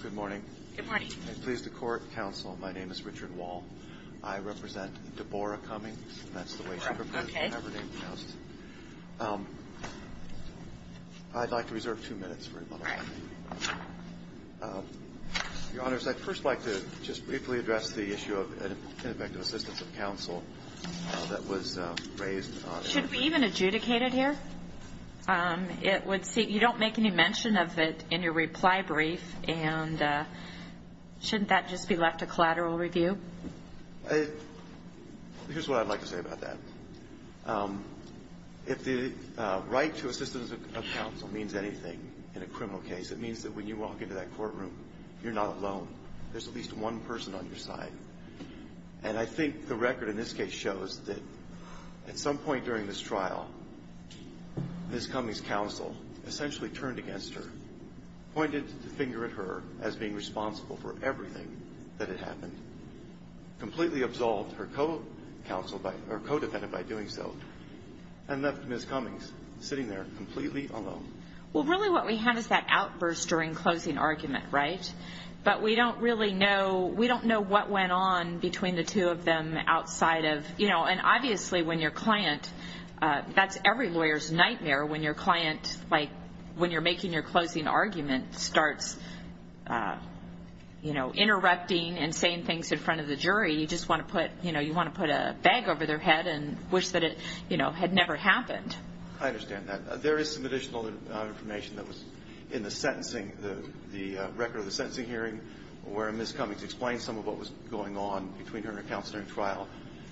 Good morning. Good morning. I'm pleased to court counsel. My name is Richard Wall. I represent Deborah Cummings. That's the way she prefers to be pronounced. I'd like to reserve two minutes for rebuttal. Your Honors, I'd first like to just briefly address the issue of ineffective assistance of counsel that was raised. Should we even adjudicate it here? You don't make any mention of it in your reply brief, and shouldn't that just be left to collateral review? Here's what I'd like to say about that. If the right to assistance of counsel means anything in a criminal case, it means that when you walk into that courtroom, you're not alone. There's at least one person on your side. And I think the record in this case shows that at some point during this trial, Ms. Cummings' counsel essentially turned against her, pointed the finger at her as being responsible for everything that had happened, completely absolved her co-counsel or co-defendant by doing so, and left Ms. Cummings sitting there completely alone. Well, really what we have is that outburst during closing argument, right? But we don't really know, we don't know what went on between the two of them outside of, you know, and obviously when your client, that's every lawyer's nightmare when your client, like, when you're making your closing argument starts, you know, interrupting and saying things in front of the jury, you just want to put, you know, you want to put a bag over their head and wish that it, you know, had never happened. I understand that. There is some additional information that was in the sentencing, the record of the sentencing hearing, where Ms. Cummings explained some of what was going on between her and her counsel during trial,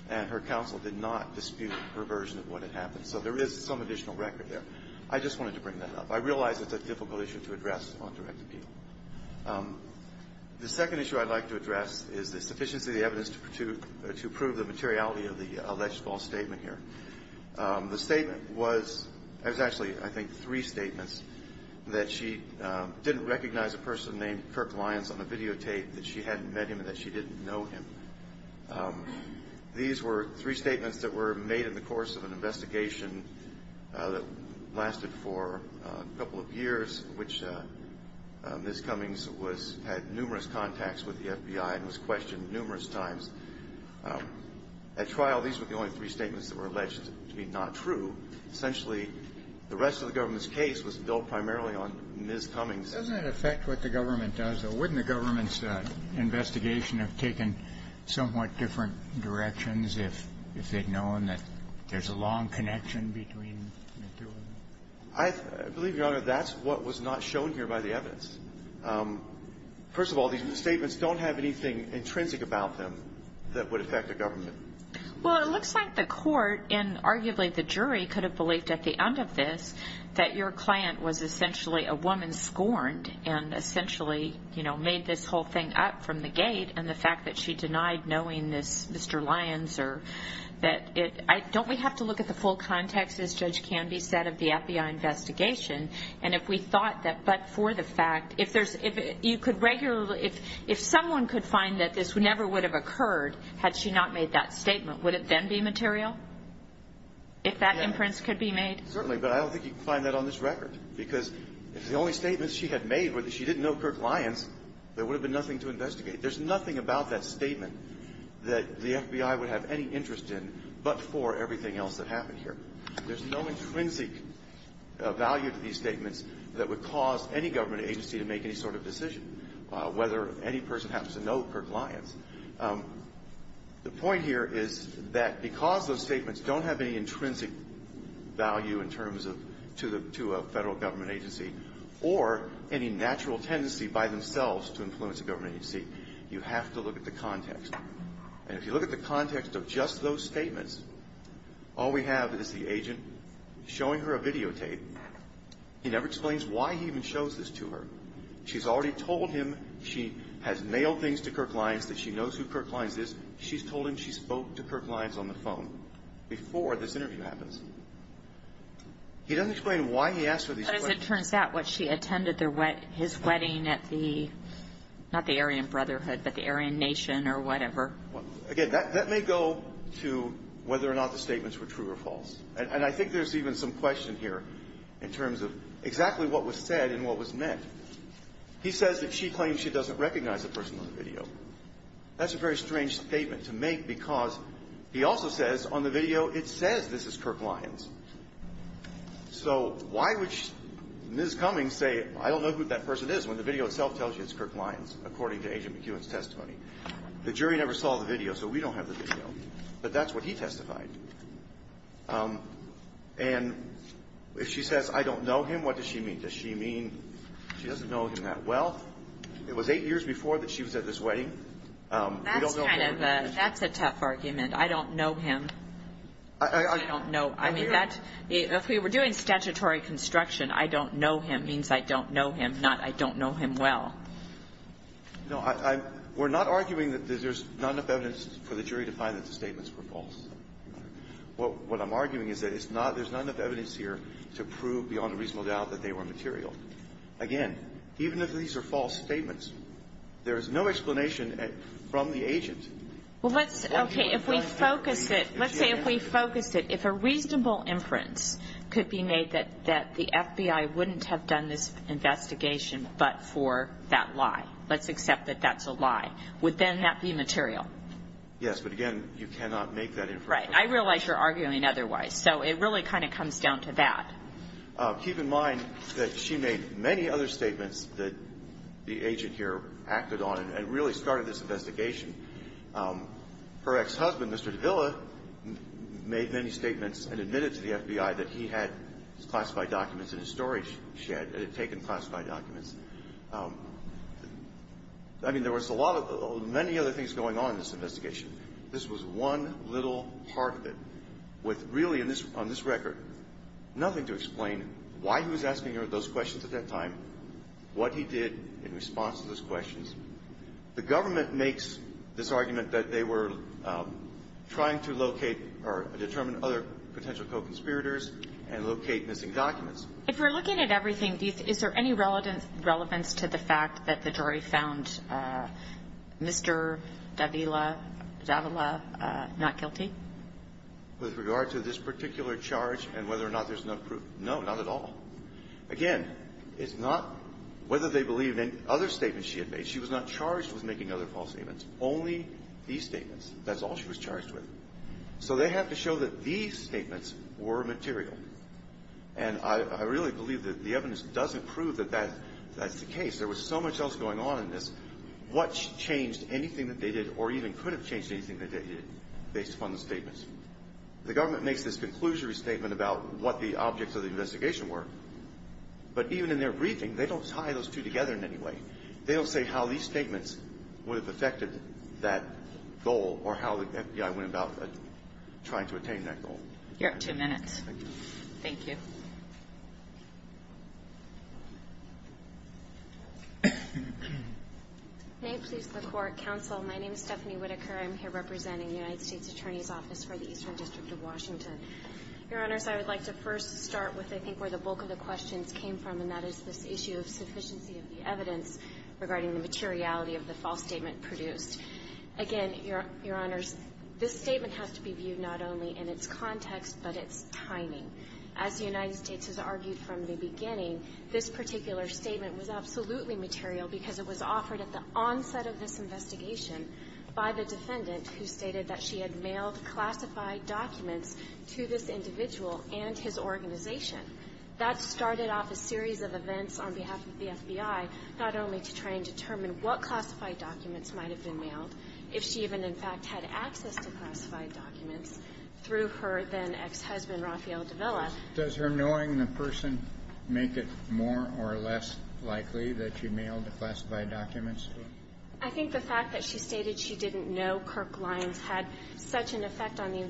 and her counsel did not dispute her version of what had happened. So there is some additional record there. I just wanted to bring that up. I realize it's a difficult issue to address on direct appeal. The second issue I'd like to address is the sufficiency of the evidence to prove the materiality of the alleged false statement here. The statement was, it was actually, I think, three statements that she didn't recognize a person named Kirk Lyons on the videotape, that she hadn't met him, and that she didn't know him. These were three statements that were made in the course of an investigation that lasted for a couple of years, which Ms. Cummings was, had numerous contacts with the FBI and was questioned numerous times. At trial, these were the only three statements that were alleged to be not true. Essentially, the rest of the government's case was built primarily on Ms. Cummings. Doesn't it affect what the government does, though? Wouldn't the government's investigation have taken somewhat different directions if they'd known that there's a long connection between the two of them? I believe, Your Honor, that's what was not shown here by the evidence. First of all, these statements don't have anything intrinsic about them that would affect the government. Well, it looks like the court, and arguably the jury, could have believed at the end of this that your client was essentially a woman scorned, and essentially, you know, made this whole thing up from the gate, and the fact that she denied knowing this Mr. Lyons, or that it, I, don't we have to look at the full context, as Judge Canby said, of the FBI investigation? And if we thought that, but for the fact, if there's, if you could regularly, if someone could find that this never would have occurred had she not made that statement, would it then be material? If that imprints could be made? Certainly, but I don't think you can find that on this record, because if the only statements she had made were that she didn't know Kirk Lyons, there would have been nothing to investigate. There's nothing about that statement that the FBI would have any interest in but for everything else that happened here. There's no intrinsic value to these statements that would cause any government agency to make any sort of decision, whether any person happens to know Kirk Lyons. The point here is that because those statements don't have any intrinsic value in terms of, to the, to a federal government agency, or any natural tendency by themselves to influence a government agency, you have to look at the context. And if you look at the context of just those statements, all we have is the agent showing her a videotape. He never explains why he even shows this to her. She's already told him she has mailed things to Kirk Lyons, that she knows who Kirk Lyons is. She's told him she spoke to Kirk Lyons on the phone before this interview happens. He doesn't explain why he asked her these questions. But as it turns out, what she attended his wedding at the, not the Aryan Brotherhood, but the Aryan Nation or whatever. Again, that may go to whether or not the statements were true or false. And I think there's even some question here in terms of exactly what was said and what was meant. He says that she claims she doesn't recognize the person on the video. That's a very strange statement to make because he also says on the video it says this is Kirk Lyons. So why would Ms. Cummings say, I don't know who that person is, when the video itself tells you it's Kirk Lyons, according to Agent McEwen's testimony? The jury never saw the video, so we don't have the video. But that's what he testified. And if she says, I don't know him, what does she mean? Does she mean she doesn't know him that well? It was eight years before that she was at this wedding. We don't know him. That's kind of a, that's a tough argument. I don't know him. I don't know. I mean, that's, if we were doing statutory construction, I don't know him means I don't know him, not I don't know him well. No, I'm, we're not arguing that there's not enough evidence for the jury to find that the statements were false. What I'm arguing is that it's not, there's not enough evidence here to prove beyond a reasonable doubt that they were material. Again, even if these are false statements, there is no explanation from the agent. Well, let's, okay, if we focus it, let's say if we focus it, if a reasonable inference could be made that the FBI wouldn't have done this investigation but for that lie. Let's accept that that's a lie. Would then that be material? Yes, but again, you cannot make that inference. Right. I realize you're arguing otherwise. So it really kind of comes down to that. Keep in mind that she made many other statements that the agent here acted on and really started this investigation. Her ex-husband, Mr. Davila, made many statements and admitted to the FBI that he had classified documents in his storage shed and had taken classified documents. I mean, there was a lot of, many other things going on in this investigation. This was one little part of it with really, on this record, nothing to explain why he was asking her those questions at that time, what he did in response to those questions. The government makes this argument that they were trying to locate or determine other potential co-conspirators and locate missing documents. If we're looking at everything, is there any relevance to the fact that the jury found Mr. Davila not guilty? With regard to this particular charge and whether or not there's enough proof, no, not at all. Again, it's not whether they believe in any other statements she had made. She was not charged with making other false statements, only these statements. That's all she was charged with. So they have to show that these statements were material. And I really believe that the evidence doesn't prove that that's the case. There was so much else going on in this. What changed anything that they did or even could have changed anything that they did based upon the statements? The government makes this conclusionary statement about what the objects of the investigation were. But even in their briefing, they don't tie those two together in any way. They don't say how these statements would have affected that goal or how the FBI went about trying to attain that goal. You have two minutes. Thank you. May it please the Court. Counsel, my name is Stephanie Whitaker. I'm here representing the United States Attorney's Office for the Eastern District of Washington. Your Honors, I would like to first start with I think where the bulk of the questions came from, and that is this issue of sufficiency of the evidence regarding the materiality of the false statement produced. Again, Your Honors, this statement has to be viewed not only in its context but its timing. As the United States has argued from the beginning, this particular statement was absolutely material because it was offered at the onset of this investigation by the defendant who stated that she had mailed classified documents to this individual and his organization. That started off a series of events on behalf of the FBI, not only to try and determine what classified documents might have been mailed, if she even in fact had access to classified documents, through her then ex-husband, Rafael Davila. Does her knowing the person make it more or less likely that she mailed the classified documents? I think the fact that she stated she didn't know Kirk Lyons had such an effect on the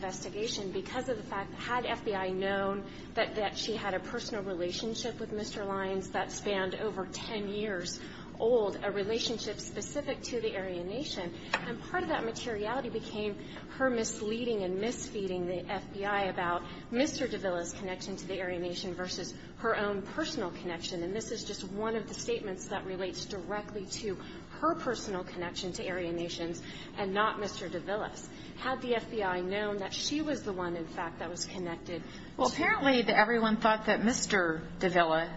relationship with Mr. Lyons that spanned over 10 years old, a relationship specific to the Aryan Nation, and part of that materiality became her misleading and misfeeding the FBI about Mr. Davila's connection to the Aryan Nation versus her own personal connection. And this is just one of the statements that relates directly to her personal connection to Aryan Nations and not Mr. Davila's. Had the FBI known that she was the one, in fact, that was connected to her? Apparently everyone thought that Mr. Davila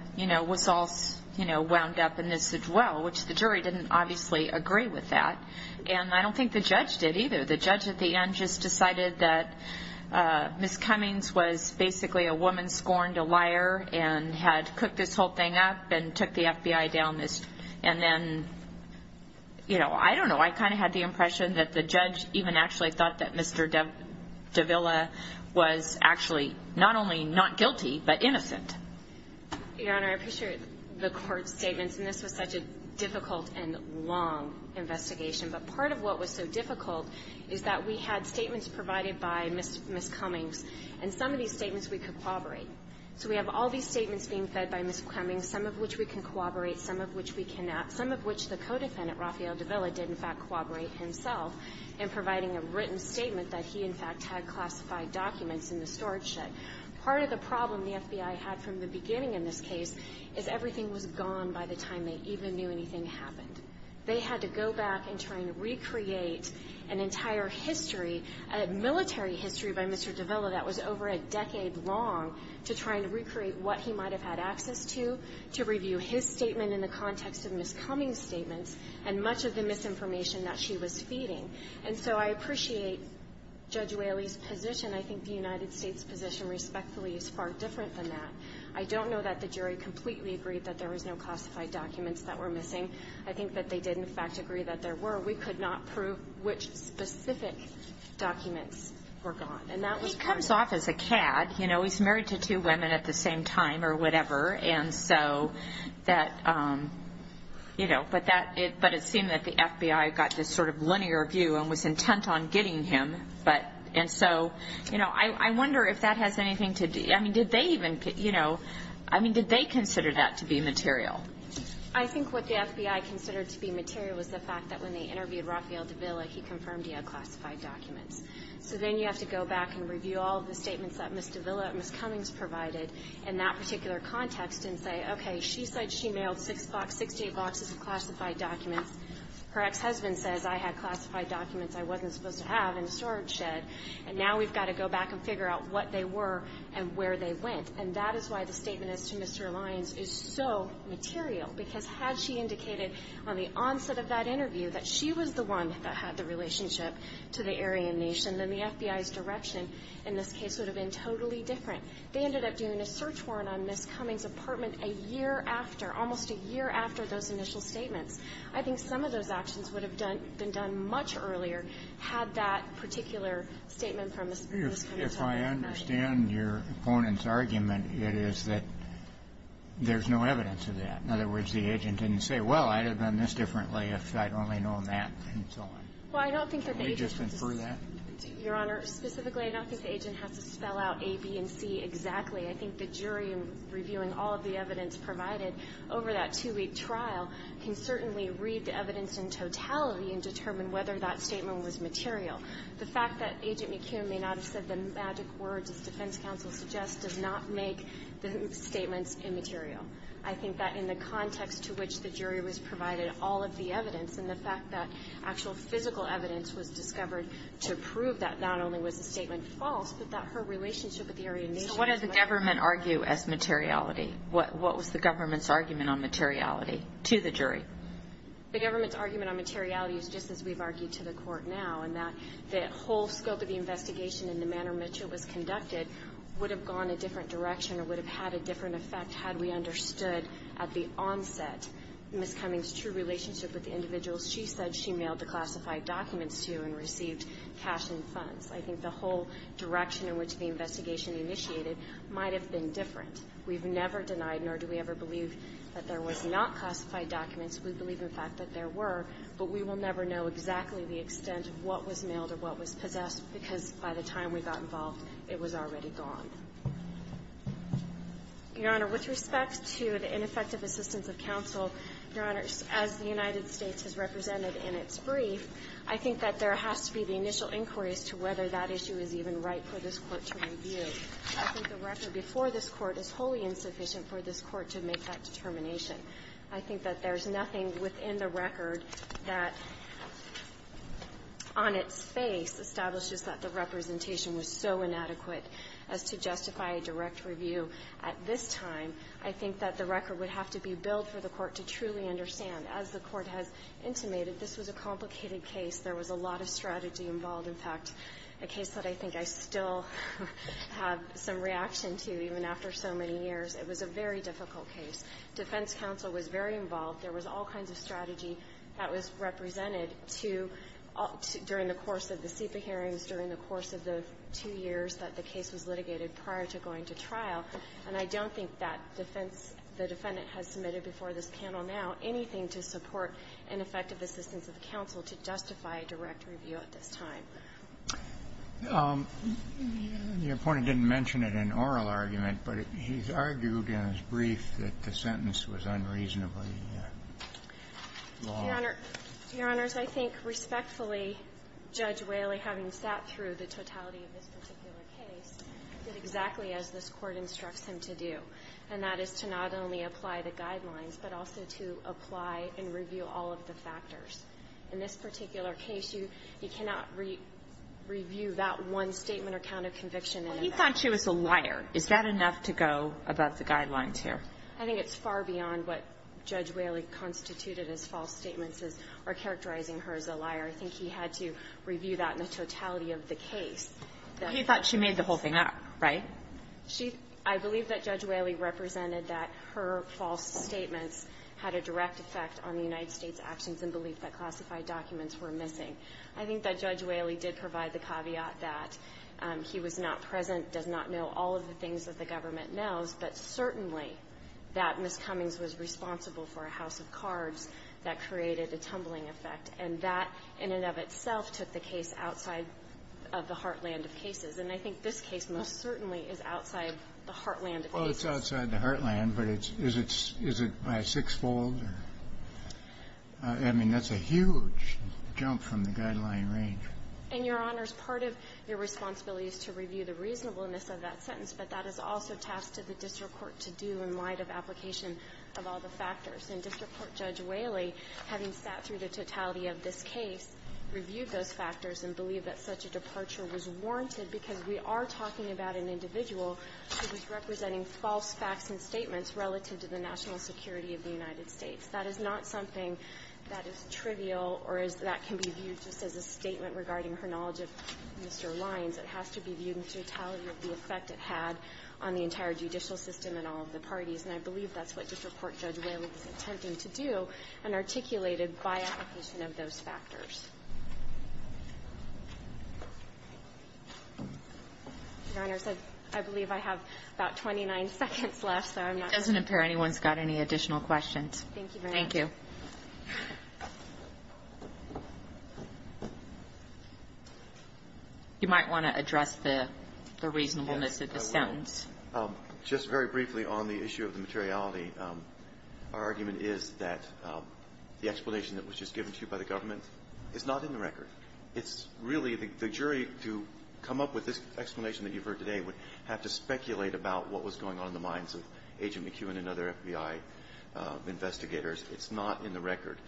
was all wound up in this as well, which the jury didn't obviously agree with that. And I don't think the judge did either. The judge at the end just decided that Ms. Cummings was basically a woman scorned, a liar, and had cooked this whole thing up and took the FBI down. And then, you know, I don't know. I kind of had the impression that the judge even actually thought that Mr. Davila was actually not only not guilty but innocent. Your Honor, I appreciate the Court's statements. And this was such a difficult and long investigation. But part of what was so difficult is that we had statements provided by Ms. Cummings, and some of these statements we could corroborate. So we have all these statements being fed by Ms. Cummings, some of which we can corroborate, some of which we cannot, some of which the co-defendant, Rafael Davila, did, in fact, corroborate himself in providing a written statement that he, in fact, had classified documents in the storage shed. Part of the problem the FBI had from the beginning in this case is everything was gone by the time they even knew anything happened. They had to go back and try and recreate an entire history, a military history by Mr. Davila that was over a decade long, to try and recreate what he might have had access to, to review his statement in the context of Ms. Cummings' statements and much of the misinformation that she was feeding. And so I appreciate Judge Whaley's position. I think the United States' position, respectfully, is far different than that. I don't know that the jury completely agreed that there was no classified documents that were missing. I think that they did, in fact, agree that there were. We could not prove which specific documents were gone. And that was part of it. He comes off as a cad. You know, he's married to two women at the same time or whatever. And so that, you know, but it seemed that the FBI got this sort of linear view and was intent on getting him. And so, you know, I wonder if that has anything to do, I mean, did they even, you know, I mean, did they consider that to be material? I think what the FBI considered to be material was the fact that when they interviewed Rafael Davila, he confirmed he had classified documents. So then you have to go back and review all of the statements that Ms. Davila and Ms. Cummings provided in that particular context and say, okay, she said she mailed six to eight boxes of classified documents. Her ex-husband says I had classified documents I wasn't supposed to have in the storage shed. And now we've got to go back and figure out what they were and where they went. And that is why the statement as to Mr. Alliance is so material. Because had she indicated on the onset of that interview that she was the one that had the relationship to the Aryan Nation, then the FBI's direction in this case would have been totally different. They ended up doing a search warrant on Ms. Cummings' apartment a year after, almost a year after those initial statements. I think some of those actions would have done been done much earlier had that particular statement from Ms. Cummings not been made. Kennedy. If I understand your opponent's argument, it is that there's no evidence of that. In other words, the agent didn't say, well, I'd have done this differently if I'd only known that, and so on. Well, I don't think that the agent has to say that. Can we just infer that? Your Honor, specifically, I don't think the agent has to spell out A, B, and C exactly. I think the jury, reviewing all of the evidence provided over that two-week trial, can certainly read the evidence in totality and determine whether that statement was material. The fact that Agent McCune may not have said the magic words, as defense counsel suggests, does not make the statements immaterial. I think that in the context to which the jury was provided all of the evidence and the fact that actual physical evidence was discovered to prove that not only was the statement false, but that her relationship with the Aryan Nation was material. So what did the government argue as materiality? What was the government's argument on materiality to the jury? The government's argument on materiality is just as we've argued to the Court now, in that the whole scope of the investigation and the manner in which it was conducted would have gone a different direction or would have had a different effect had we understood at the onset Ms. Cummings' true relationship with the individuals she said she mailed the classified documents to and received cash and funds. I think the whole direction in which the investigation initiated might have been different. We've never denied, nor do we ever believe that there was not classified documents. We believe, in fact, that there were, but we will never know exactly the extent of what was mailed or what was possessed, because by the time we got involved, it was already gone. Your Honor, with respect to the ineffective assistance of counsel, Your Honor, as the United States has represented in its brief, I think that there has to be the initial inquiry as to whether that issue is even right for this Court to review. I think the record before this Court is wholly insufficient for this Court to make that determination. I think that there's nothing within the record that, on its face, establishes that the representation was so inadequate as to justify a direct review at this time. I think that the record would have to be built for the Court to truly understand. As the Court has intimated, this was a complicated case. There was a lot of strategy involved. In fact, a case that I think I still have some reaction to, even after so many years, it was a very difficult case. Defense counsel was very involved. There was all kinds of strategy that was represented to, during the course of the SEPA hearings, during the course of the two years that the case was litigated prior to going to trial. And I don't think that defense the defendant has submitted before this panel now anything to support ineffective assistance of counsel to justify a direct review at this time. The Appointee didn't mention it in oral argument, but he's argued in his brief that the sentence was unreasonably long. Your Honor, I think respectfully, Judge Whaley, having sat through the totality of this particular case, did exactly as this Court instructs him to do, and that is to not only apply the guidelines, but also to apply and review all of the factors. In this particular case, you cannot review that one statement or count of conviction in advance. Well, he thought she was a liar. Is that enough to go about the guidelines here? I think it's far beyond what Judge Whaley constituted as false statements or characterizing her as a liar. I think he had to review that in the totality of the case. He thought she made the whole thing up, right? She – I believe that Judge Whaley represented that her false statements had a direct effect on the United States actions and belief that classified documents were missing. I think that Judge Whaley did provide the caveat that he was not present, does not know all of the things that the government knows, but certainly that Ms. Cummings was responsible for a house of cards that created a tumbling effect. And that, in and of itself, took the case outside of the heartland of cases. And I think this case most certainly is outside the heartland of cases. Well, it's outside the heartland, but is it by sixfold? I mean, that's a huge jump from the guideline range. And, Your Honors, part of your responsibility is to review the reasonableness of that sentence, but that is also task to the district court to do in light of application of all the factors. And district court Judge Whaley, having sat through the totality of this case, reviewed those factors and believed that such a departure was warranted because we are talking about an individual who was representing false facts and statements relative to the national security of the United States. That is not something that is trivial or that can be viewed just as a statement regarding her knowledge of Mr. Lyons. It has to be viewed in totality of the effect it had on the entire judicial system and all of the parties, and I believe that's what district court Judge Whaley was attempting to do and articulated by application of those factors. Your Honors, I believe I have about 29 seconds left, so I'm not sure. It doesn't appear anyone's got any additional questions. Thank you very much. Thank you. You might want to address the reasonableness of the sentence. Yes, I will. Just very briefly on the issue of the materiality, our argument is that the explanation that was just given to you by the government is not in the record. It's really the jury to come up with this explanation that you've heard today would have to speculate about what was going on in the minds of Agent McEwen and other FBI investigators. It's not in the record.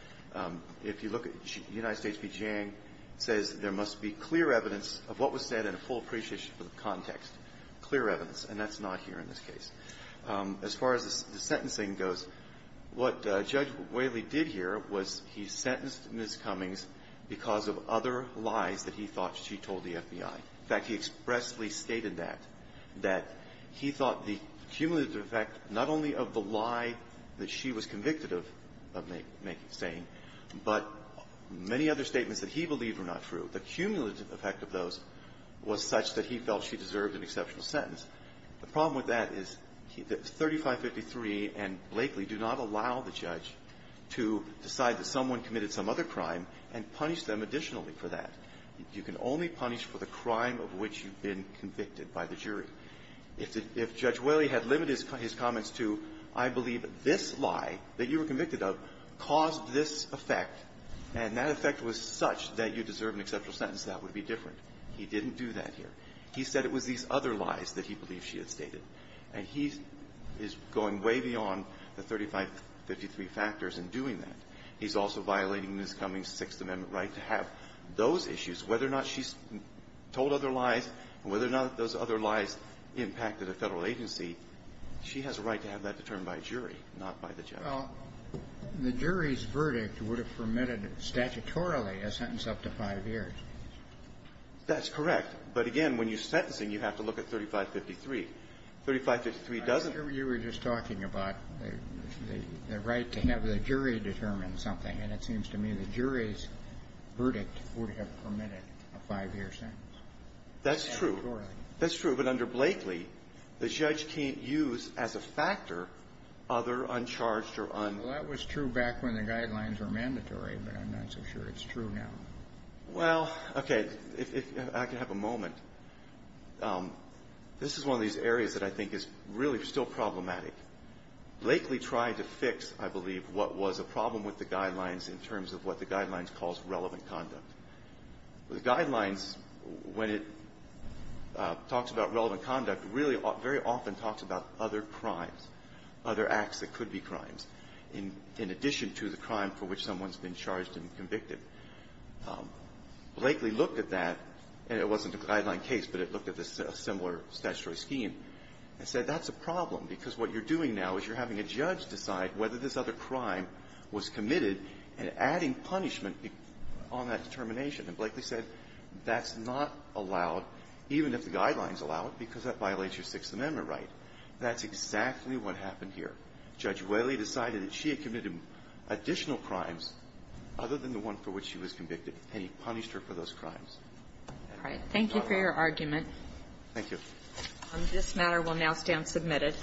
If you look at United States v. Jang, it says there must be clear evidence of what was said and a full appreciation for the context. Clear evidence, and that's not here in this case. As far as the sentencing goes, what Judge Whaley did here was he sentenced Ms. Cummings because of other lies that he thought she told the FBI. In fact, he expressly stated that, that he thought the cumulative effect not only of the lie that she was convicted of saying, but many other statements that he believed were not true. The cumulative effect of those was such that he felt she deserved an exceptional sentence. The problem with that is that 3553 and Blakeley do not allow the judge to decide that someone committed some other crime and punish them additionally for that. You can only punish for the crime of which you've been convicted by the jury. If Judge Whaley had limited his comments to, I believe this lie that you were convicted of caused this effect, and that effect was such that you deserve an exceptional sentence, that would be different. He didn't do that here. He said it was these other lies that he believed she had stated. And he is going way beyond the 3553 factors in doing that. He's also violating Ms. Cummings' Sixth Amendment right to have those issues, whether or not she's told other lies and whether or not those other lies impacted a Federal agency. She has a right to have that determined by a jury, not by the judge. Well, the jury's verdict would have permitted, statutorily, a sentence up to five years. That's correct. But again, when you're sentencing, you have to look at 3553. 3553 doesn't ---- I'm sure you were just talking about the right to have the jury determine something. And it seems to me the jury's verdict would have permitted a five-year sentence. That's true. Statutorily. That's true. But under Blakeley, the judge can't use as a factor other uncharged or un- Well, that was true back when the guidelines were mandatory. But I'm not so sure it's true now. Well, okay. If I could have a moment. This is one of these areas that I think is really still problematic. Blakeley tried to fix, I believe, what was a problem with the guidelines in terms of what the guidelines calls relevant conduct. The guidelines, when it talks about relevant conduct, really very often talks about other crimes, other acts that could be crimes, in addition to the crime for which someone's been charged and convicted. Blakeley looked at that, and it wasn't a guideline case, but it looked at a similar statutory scheme and said that's a problem because what you're doing now is you're having a judge decide whether this other crime was committed and adding punishment on that determination. And Blakeley said that's not allowed, even if the guidelines allow it, because that violates your Sixth Amendment right. That's exactly what happened here. Judge Whaley decided that she had committed additional crimes other than the one for which she was convicted, and he punished her for those crimes. All right. Thank you for your argument. Thank you. This matter will now stand submitted.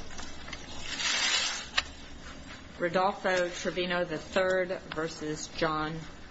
Rodolfo Trevino III v. John.